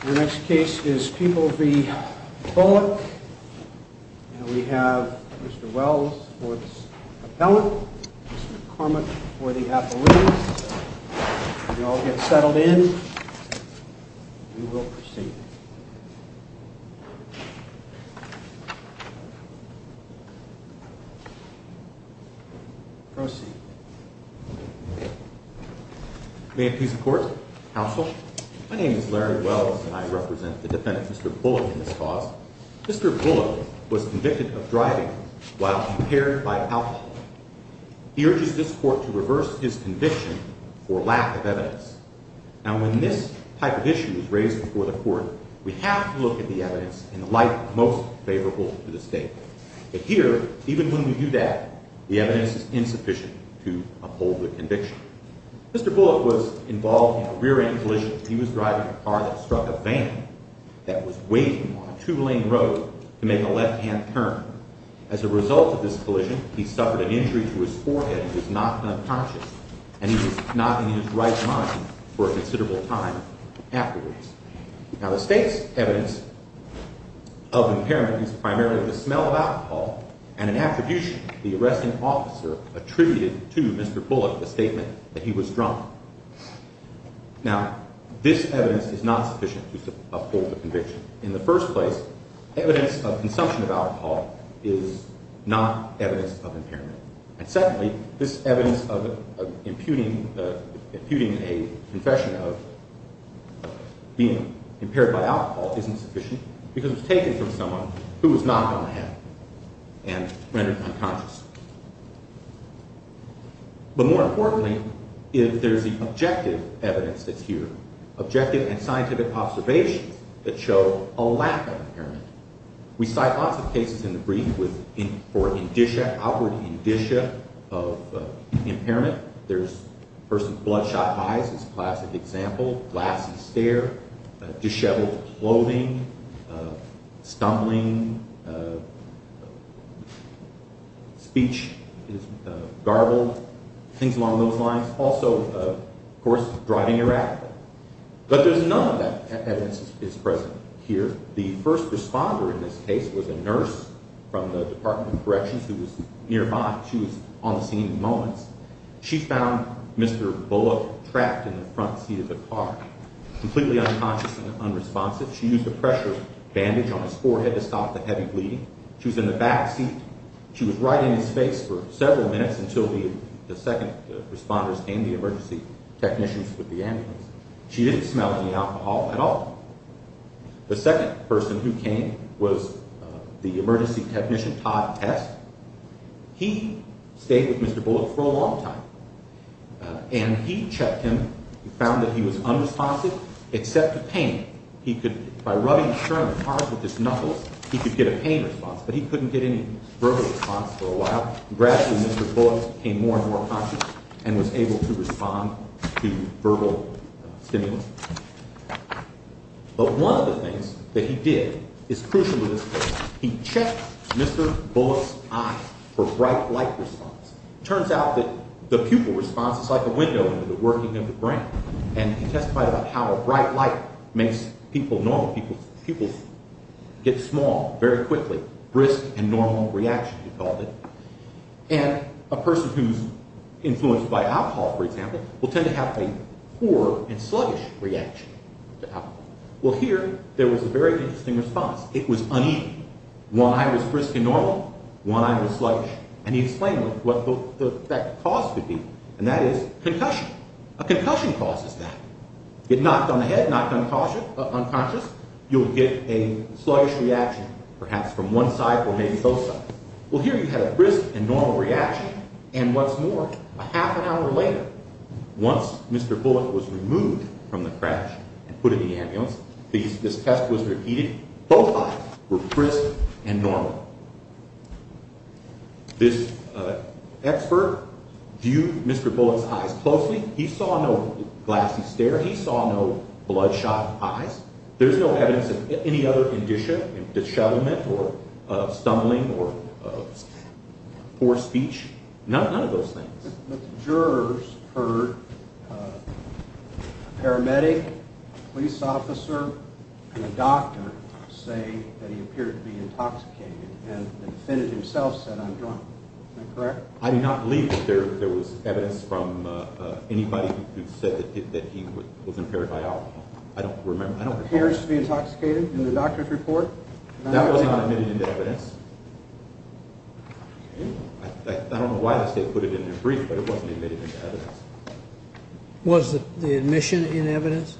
The next case is People v. Bullock. We have Mr. Wells for the appellant, Mr. Cormack for the appellant. You all get settled in. We will proceed. Proceed. May it please the Court. Counsel. My name is Larry Wells and I represent the defendant, Mr. Bullock, in this cause. Mr. Bullock was convicted of driving while impaired by alcohol. He urges this Court to reverse his conviction for lack of evidence. Now when this type of issue is raised before the Court, we have to look at the evidence in the light most favorable to the State. But here, even when we do that, the evidence is insufficient to uphold the conviction. Mr. Bullock was involved in a rear-end collision. He was driving a car that struck a van that was waiting on a two-lane road to make a left-hand turn. As a result of this collision, he suffered an injury to his forehead and was knocked unconscious. And he was not in his right mind for a considerable time afterwards. Now the State's evidence of impairment is primarily the smell of alcohol and an attribution the arresting officer attributed to Mr. Bullock, the statement that he was drunk. Now this evidence is not sufficient to uphold the conviction. In the first place, evidence of consumption of alcohol is not evidence of impairment. And secondly, this evidence of imputing a confession of being impaired by alcohol isn't sufficient because it was taken from someone who was knocked on the head and rendered unconscious. But more importantly, if there's an objective evidence that's here, objective and scientific observations that show a lack of impairment. We cite lots of cases in the brief for outward indicia of impairment. There's a person's bloodshot eyes is a classic example, glassy stare, disheveled clothing, stumbling, speech garbled, things along those lines. Also, of course, driving erratic. But there's none of that evidence that's present here. The first responder in this case was a nurse from the Department of Corrections who was nearby. She was on the scene in moments. She found Mr. Bullock trapped in the front seat of the car, completely unconscious and unresponsive. She used a pressure bandage on his forehead to stop the heavy bleeding. She was in the back seat. She was right in his face for several minutes until the second responders came, the emergency technicians with the ambulance. She didn't smell any alcohol at all. The second person who came was the emergency technician, Todd Tess. He stayed with Mr. Bullock for a long time, and he checked him. He found that he was unresponsive except to pain. He could, by rubbing his shirt on the cars with his knuckles, he could get a pain response, but he couldn't get any verbal response for a while. Gradually, Mr. Bullock became more and more conscious and was able to respond to verbal stimulus. But one of the things that he did is crucial to this case. He checked Mr. Bullock's eyes for bright light response. It turns out that the pupil response is like a window into the working of the brain, and he testified about how a bright light makes people normal. Pupils get small very quickly. Brisk and normal reaction, he called it. And a person who's influenced by alcohol, for example, will tend to have a poor and sluggish reaction to alcohol. Well, here, there was a very interesting response. It was uneven. One eye was brisk and normal, one eye was sluggish, and he explained what that cause could be, and that is concussion. A concussion causes that. Get knocked on the head, knocked unconscious, you'll get a sluggish reaction, perhaps from one side or maybe both sides. Well, here you had a brisk and normal reaction, and what's more, a half an hour later, once Mr. Bullock was removed from the crash and put in the ambulance, this test was repeated, both eyes were brisk and normal. This expert viewed Mr. Bullock's eyes closely. He saw no glassy stare. He saw no bloodshot eyes. There's no evidence of any other indicia, disshadowment, or stumbling, or poor speech. None of those things. But the jurors heard a paramedic, police officer, and a doctor say that he appeared to be intoxicated, and the defendant himself said, I'm drunk. Is that correct? I do not believe that there was evidence from anybody who said that he was impaired by alcohol. I don't remember. Appears to be intoxicated in the doctor's report? That was not admitted into evidence. I don't know why they put it in their brief, but it wasn't admitted into evidence. Was the admission in evidence?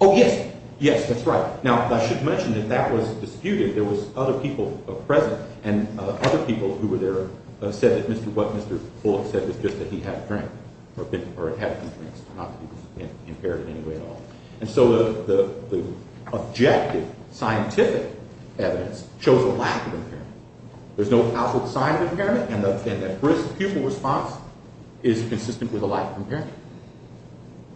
Oh, yes. Yes, that's right. Now, I should mention that that was disputed. There was other people present, and other people who were there said that what Mr. Bullock said was just that he had a drink, or had a few drinks, not to be impaired in any way at all. And so the objective scientific evidence shows a lack of impairment. There's no household sign of impairment, and the risk pupil response is consistent with a lack of impairment.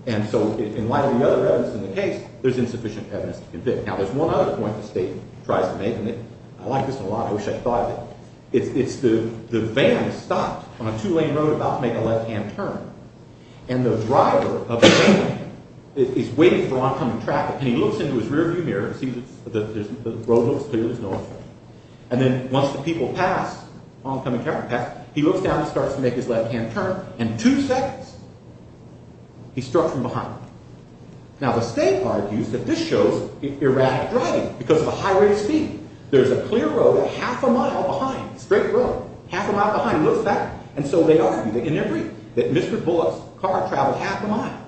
And so in light of the other evidence in the case, there's insufficient evidence to convict. Now, there's one other point the state tries to make, and I like this one a lot, I wish I thought of it. It's the van stopped on a two-lane road about to make a left-hand turn, and the driver of the van is waiting for oncoming traffic, and he looks into his rear-view mirror and sees that the road looks clear to the north, and then once the people pass, oncoming traffic pass, he looks down and starts to make his left-hand turn, and two seconds, he's struck from behind. Now, the state argues that this shows erratic driving because of the high rate of speed. There's a clear road a half a mile behind, a straight road, half a mile behind, he looks back, and so they argue in their brief that Mr. Bullock's car traveled half a mile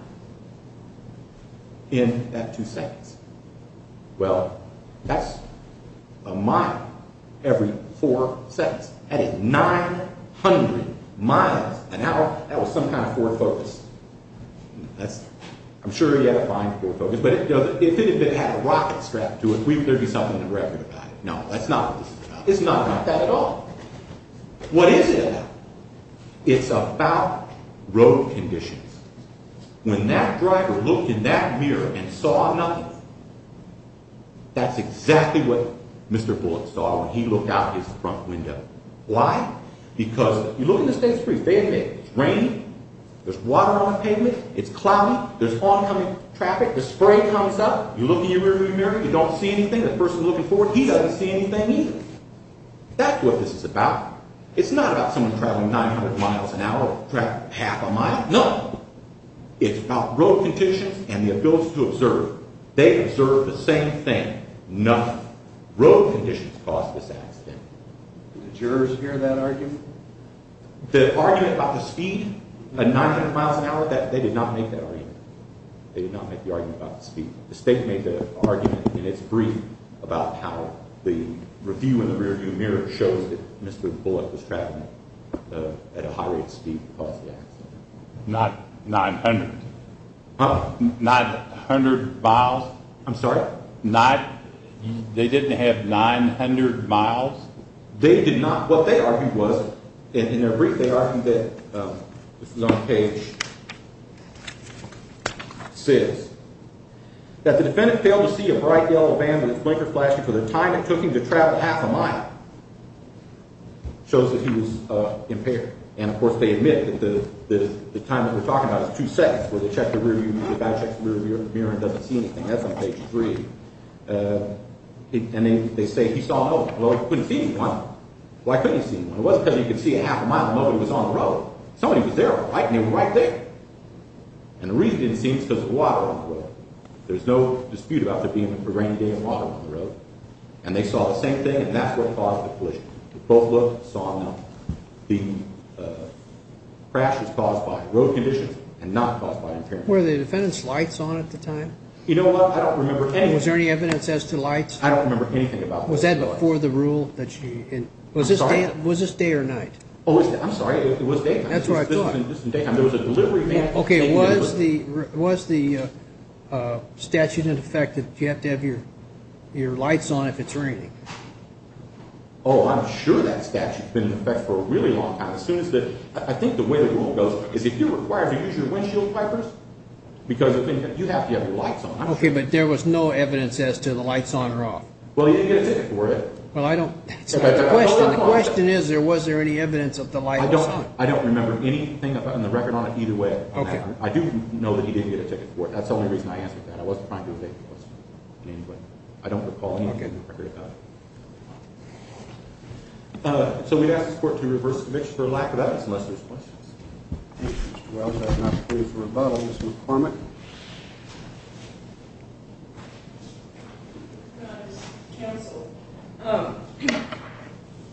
in that two seconds. Well, that's a mile every four seconds. That is 900 miles an hour. That was some kind of Ford Focus. I'm sure he had a fine Ford Focus, but if it had a rocket strapped to it, there'd be something in the record about it. No, that's not what this is about. It's not about that at all. What is it about? It's about road conditions. When that driver looked in that mirror and saw nothing, that's exactly what Mr. Bullock saw when he looked out his front window. Why? Because you look in the state's brief. It's raining, there's water on the pavement, it's cloudy, there's oncoming traffic, the spray comes up, you look in your rearview mirror, you don't see anything, the person looking forward, he doesn't see anything either. That's what this is about. It's not about someone traveling 900 miles an hour or traveling half a mile, no. It's about road conditions and the ability to observe. They observed the same thing. None. Road conditions caused this accident. Did the jurors hear that argument? The argument about the speed at 900 miles an hour, they did not make that argument. They did not make the argument about the speed. The state made the argument in its brief about how the review in the rearview mirror shows that Mr. Bullock was traveling at a high rate of speed that caused the accident. Not 900. Huh? Not 100 miles. I'm sorry? Not, they didn't have 900 miles. They did not. What they argued was, in their brief they argued that, this is on page 6, that the defendant failed to see a bright yellow van with its blinker flashing for the time it took him to travel half a mile. It shows that he was impaired. And, of course, they admit that the time that we're talking about is two seconds, where they check the rearview mirror, the guy checks the rearview mirror and doesn't see anything. That's on page 3. And they say he saw nobody. Well, he couldn't see anyone. Why couldn't he see anyone? It wasn't because he could see half a mile, nobody was on the road. Somebody was there, right there. And the reason he didn't see anyone was because of the water on the road. There's no dispute about there being a rainy day and water on the road. And they saw the same thing, and that's what caused the collision. They both looked, saw nothing. The crash was caused by road conditions and not caused by impairment. Were the defendant's lights on at the time? You know what? I don't remember anything. Was there any evidence as to lights? I don't remember anything about lights. Was that before the rule? I'm sorry? Was this day or night? Oh, I'm sorry. It was day or night. That's what I thought. This was in daytime. There was a delivery van. Okay, was the statute in effect that you have to have your lights on if it's raining? Oh, I'm sure that statute has been in effect for a really long time. I think the way the rule goes is if you're required to use your windshield wipers, because you have to have your lights on. Okay, but there was no evidence as to the lights on or off? Well, he didn't get a ticket for it. The question is, was there any evidence of the lights on? I don't remember anything on the record on it either way. I do know that he didn't get a ticket for it. That's the only reason I answered that. I wasn't trying to evade the question. I don't recall anything on the record about it. So we'd ask this Court to reverse the conviction for lack of evidence unless there's questions. Mr. Wells has not pleaded for a vote. Ms. McCormick? Counsel,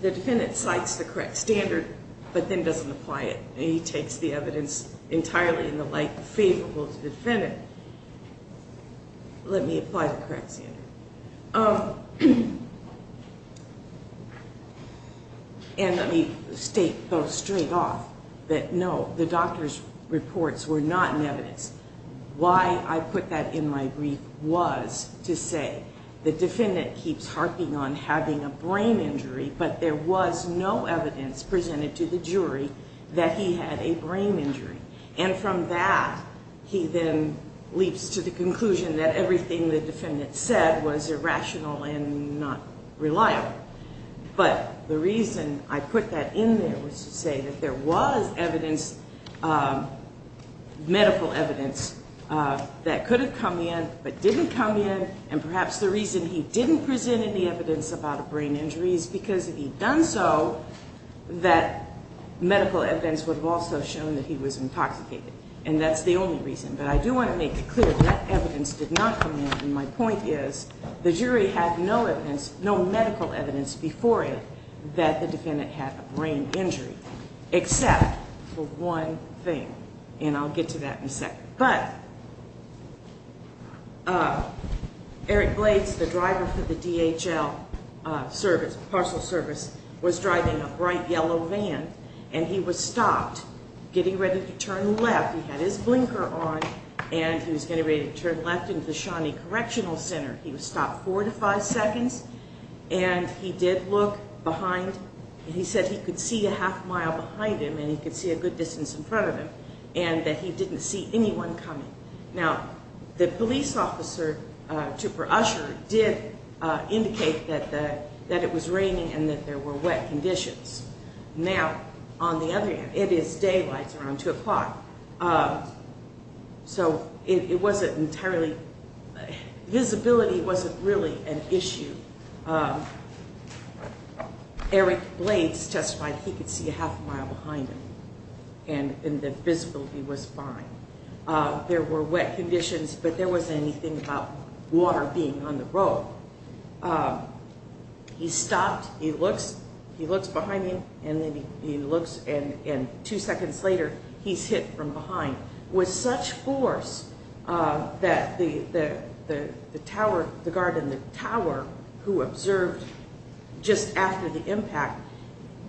the defendant cites the correct standard but then doesn't apply it. He takes the evidence entirely in the light favorable to the defendant. Let me apply the correct standard. And let me state both straight off that no, the doctor's reports were not in evidence. Why I put that in my brief was to say the defendant keeps harping on having a brain injury, but there was no evidence presented to the jury that he had a brain injury. And from that, he then leaps to the conclusion that everything the defendant said was irrational and not reliable. But the reason I put that in there was to say that there was evidence, medical evidence, that could have come in but didn't come in, and perhaps the reason he didn't present any evidence about a brain injury is because if he'd done so, that medical evidence would have also shown that he was intoxicated. And that's the only reason. But I do want to make it clear that evidence did not come in, and my point is the jury had no evidence, no medical evidence before it, that the defendant had a brain injury except for one thing, and I'll get to that in a second. But Eric Blades, the driver for the DHL parcel service, was driving a bright yellow van, and he was stopped getting ready to turn left. He had his blinker on, and he was getting ready to turn left into the Shawnee Correctional Center. He was stopped four to five seconds, and he did look behind, and he said he could see a half mile behind him and he could see a good distance in front of him, and that he didn't see anyone coming. Now, the police officer, Trooper Usher, did indicate that it was raining and that there were wet conditions. Now, on the other hand, it is daylight, it's around 2 o'clock, so it wasn't entirely, visibility wasn't really an issue. Eric Blades testified he could see a half mile behind him, and the visibility was fine. There were wet conditions, but there wasn't anything about water being on the road. He stopped, he looks behind him, and two seconds later, he's hit from behind with such force that the guard in the tower who observed just after the impact,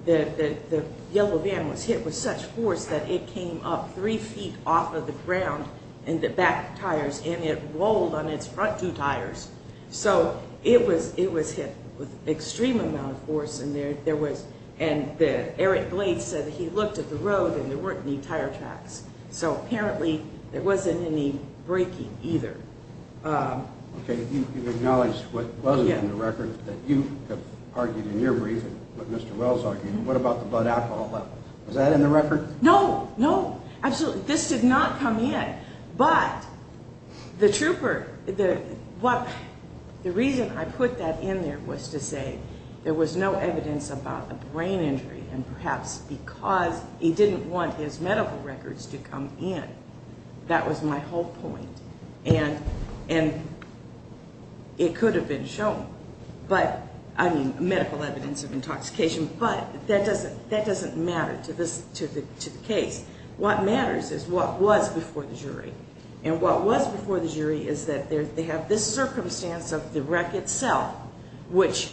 the yellow van was hit with such force that it came up three feet off of the ground in the back tires, and it rolled on its front two tires. So it was hit with an extreme amount of force, and Eric Blades said he looked at the road and there weren't any tire tracks. So apparently, there wasn't any braking either. Okay, you've acknowledged what wasn't in the record, that you have argued in your briefing, what Mr. Wells argued, what about the blood alcohol, was that in the record? No, no, absolutely, this did not come in. But the trooper, the reason I put that in there was to say there was no evidence about a brain injury, and perhaps because he didn't want his medical records to come in. That was my whole point, and it could have been shown. But, I mean, medical evidence of intoxication, but that doesn't matter to the case. What matters is what was before the jury. And what was before the jury is that they have this circumstance of the wreck itself, which,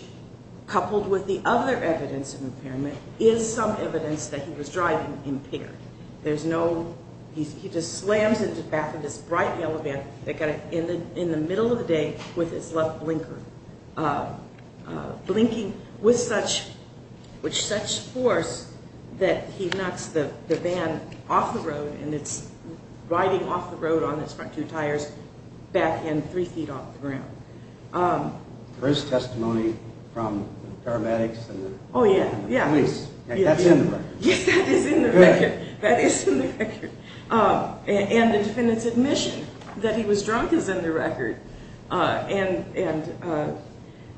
coupled with the other evidence of impairment, is some evidence that he was driving impaired. There's no, he just slams into the back of this bright yellow van in the middle of the day with his left blinker, blinking with such force that he knocks the van off the road, and it's riding off the road on its front two tires, backhand, three feet off the ground. There is testimony from paramedics and police. That's in the record. Yes, that is in the record. And the defendant's admission that he was drunk is in the record. And,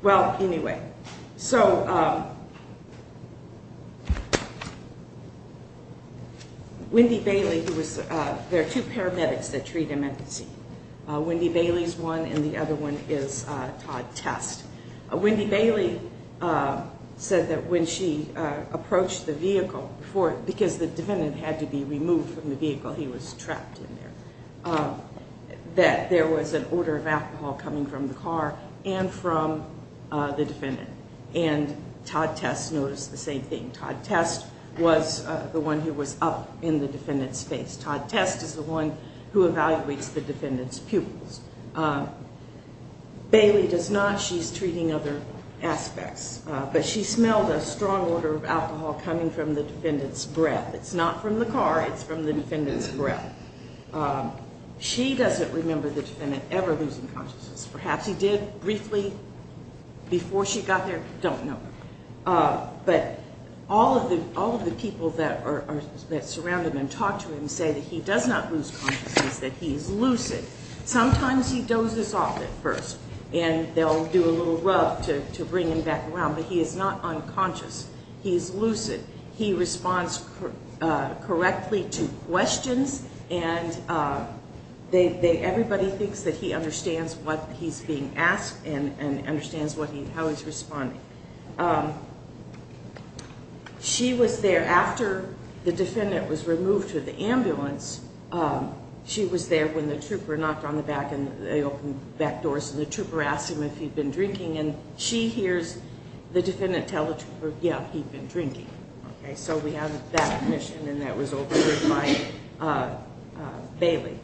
well, anyway. So, Wendy Bailey, who was, there are two paramedics that treat him at the scene. Wendy Bailey's one, and the other one is Todd Test. Wendy Bailey said that when she approached the vehicle, because the defendant had to be removed from the vehicle, he was trapped in there, that there was an order of alcohol coming from the car and from the defendant. And Todd Test noticed the same thing. Todd Test was the one who was up in the defendant's face. Todd Test is the one who evaluates the defendant's pupils. Bailey does not. She's treating other aspects. It's not from the car. It's from the defendant's breath. She doesn't remember the defendant ever losing consciousness. Perhaps he did briefly before she got there. Don't know. But all of the people that surround him and talk to him say that he does not lose consciousness, that he is lucid. Sometimes he dozes off at first, and they'll do a little rub to bring him back around. But he is not unconscious. He is lucid. He responds correctly to questions, and everybody thinks that he understands what he's being asked and understands how he's responding. She was there after the defendant was removed to the ambulance. She was there when the trooper knocked on the back, and they opened the back doors, and the trooper asked him if he'd been drinking, and she hears the defendant tell the trooper, yeah, he'd been drinking. So we have that mission, and that was overheard by Bailey.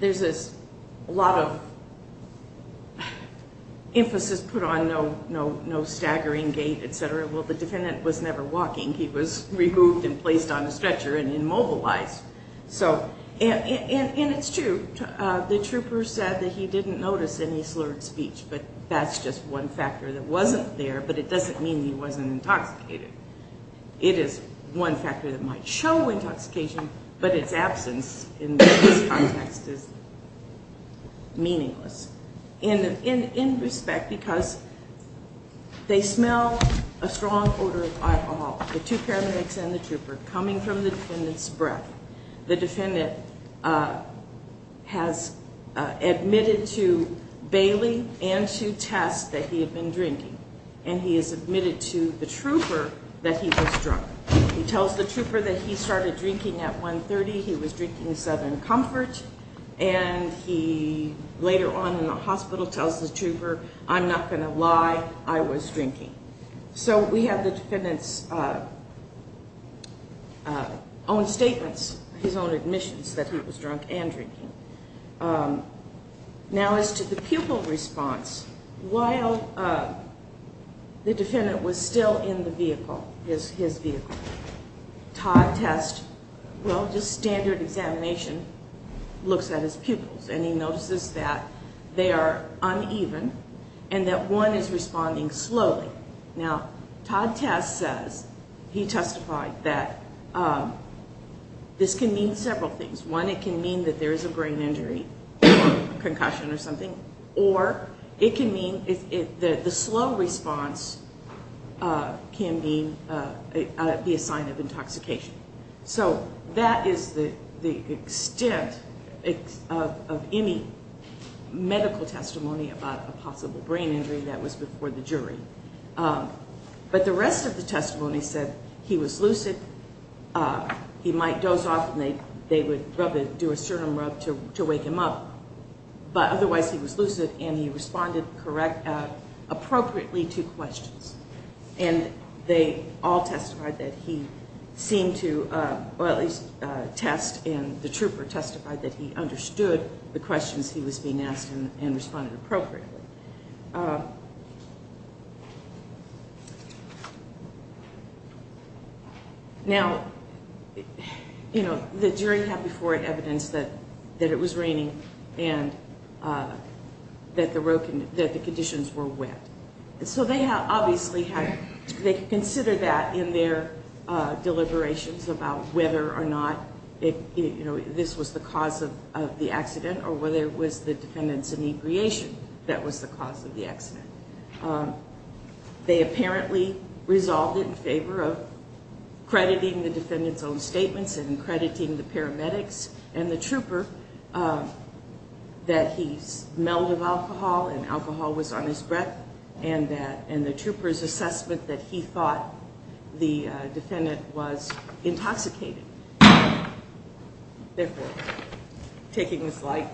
There's a lot of emphasis put on no staggering gait, et cetera. Well, the defendant was never walking. He was removed and placed on a stretcher and immobilized. And it's true. The trooper said that he didn't notice any slurred speech, but that's just one factor that wasn't there, but it doesn't mean he wasn't intoxicated. It is one factor that might show intoxication, but its absence in this context is meaningless in respect because they smell a strong odor of alcohol, the two paramedics and the trooper, coming from the defendant's breath. The defendant has admitted to Bailey and to Tess that he had been drinking, and he has admitted to the trooper that he was drunk. He tells the trooper that he started drinking at 1.30. He was drinking Southern Comfort, and he later on in the hospital tells the trooper, I'm not going to lie, I was drinking. So we have the defendant's own statements, his own admissions that he was drunk and drinking. Now as to the pupil response, while the defendant was still in the vehicle, his vehicle, Todd Tess, well, just standard examination, looks at his pupils, and he notices that they are uneven and that one is responding slowly. Now Todd Tess says, he testified that this can mean several things. One, it can mean that there is a brain injury or a concussion or something, or it can mean the slow response can be a sign of intoxication. So that is the extent of any medical testimony about a possible brain injury that was before the jury. But the rest of the testimony said he was lucid, he might doze off, and they would do a sternum rub to wake him up, but otherwise he was lucid, and he responded appropriately to questions. And they all testified that he seemed to, well, at least Tess and the trooper testified that he understood the questions he was being asked and responded appropriately. Now, you know, the jury had before it evidence that it was raining and that the conditions were wet. So they obviously had, they considered that in their deliberations about whether or not this was the cause of the accident or whether it was the defendant's inebriation that was the cause of the accident. They apparently resolved it in favor of crediting the defendant's own statements and crediting the paramedics and the trooper that he smelled of alcohol and alcohol was on his breath and the trooper's assessment that he thought the defendant was intoxicated. Therefore, taking this light.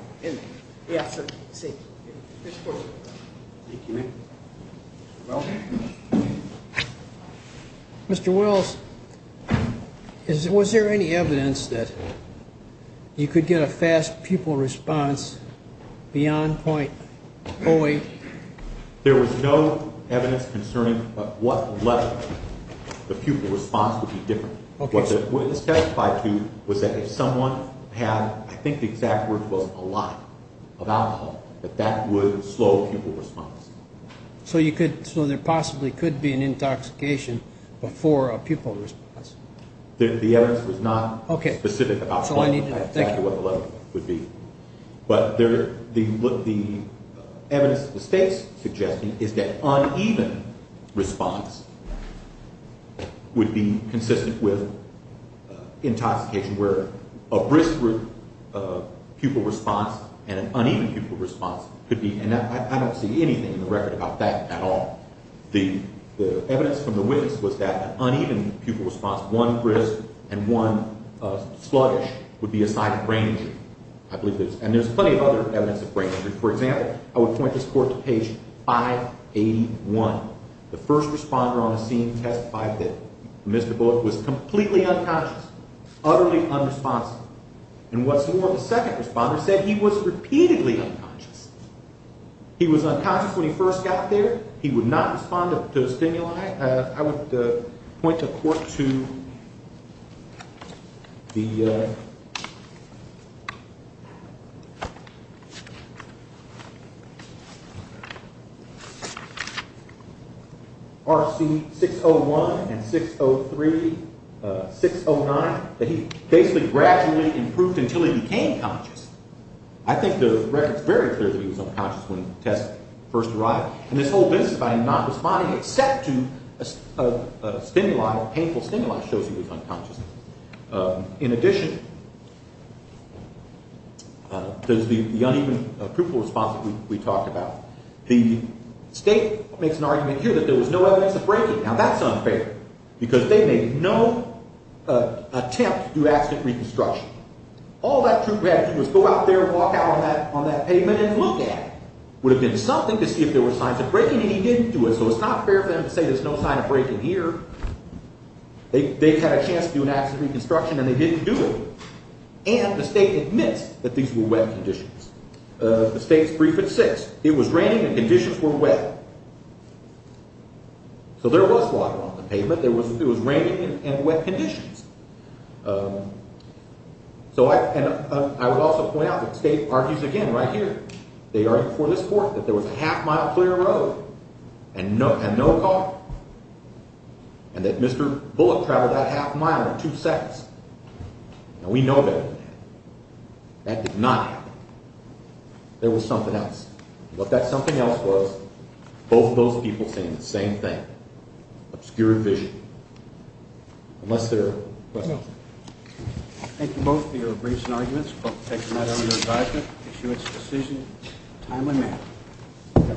Mr. Wills, was there any evidence that you could get a fast pupil response beyond 0.08? There was no evidence concerning what level the pupil response would be different. What the witness testified to was that if someone had, I think the exact word was a lot of alcohol, that that would slow the pupil response. So you could, so there possibly could be an intoxication before a pupil response. The evidence was not specific about what the level would be. But the evidence the state's suggesting is that uneven response would be consistent with intoxication where a brisk pupil response and an uneven pupil response could be, and I don't see anything in the record about that at all. The evidence from the witness was that an uneven pupil response, one brisk and one sluggish would be a sign of brain injury. I believe there's, and there's plenty of other evidence of brain injury. For example, I would point this court to page 581. The first responder on the scene testified that Mr. Bullock was completely unconscious, utterly unresponsive. And what's more, the second responder said he was repeatedly unconscious. He was unconscious when he first got there. He would not respond to stimuli. I would point the court to the RC601 and 603, 609, that he basically gradually improved until he became conscious. I think the record's very clear that he was unconscious when the test first arrived. And this whole business about him not responding except to stimuli, painful stimuli, shows he was unconscious. In addition, there's the uneven pupil response that we talked about. The state makes an argument here that there was no evidence of brain injury. Now, that's unfair because they made no attempt to do accident reconstruction. All that troop had to do was go out there and walk out on that pavement and look at it. It would have been something to see if there were signs of breaking, and he didn't do it. So it's not fair for them to say there's no sign of breaking here. They had a chance to do an accident reconstruction, and they didn't do it. And the state admits that these were wet conditions. The state's brief at 6. It was raining, and the conditions were wet. So there was water on the pavement. It was raining and wet conditions. So I would also point out that the state argues again right here. They argue for this court that there was a half-mile clear road and no car, and that Mr. Bullock traveled that half-mile in two seconds. Now, we know that didn't happen. That did not happen. There was something else. And what that something else was, both of those people saying the same thing, obscured vision. Unless there are questions. Thank you both for your briefs and arguments. Hope to take a matter under advisement, issue its decision in a timely manner.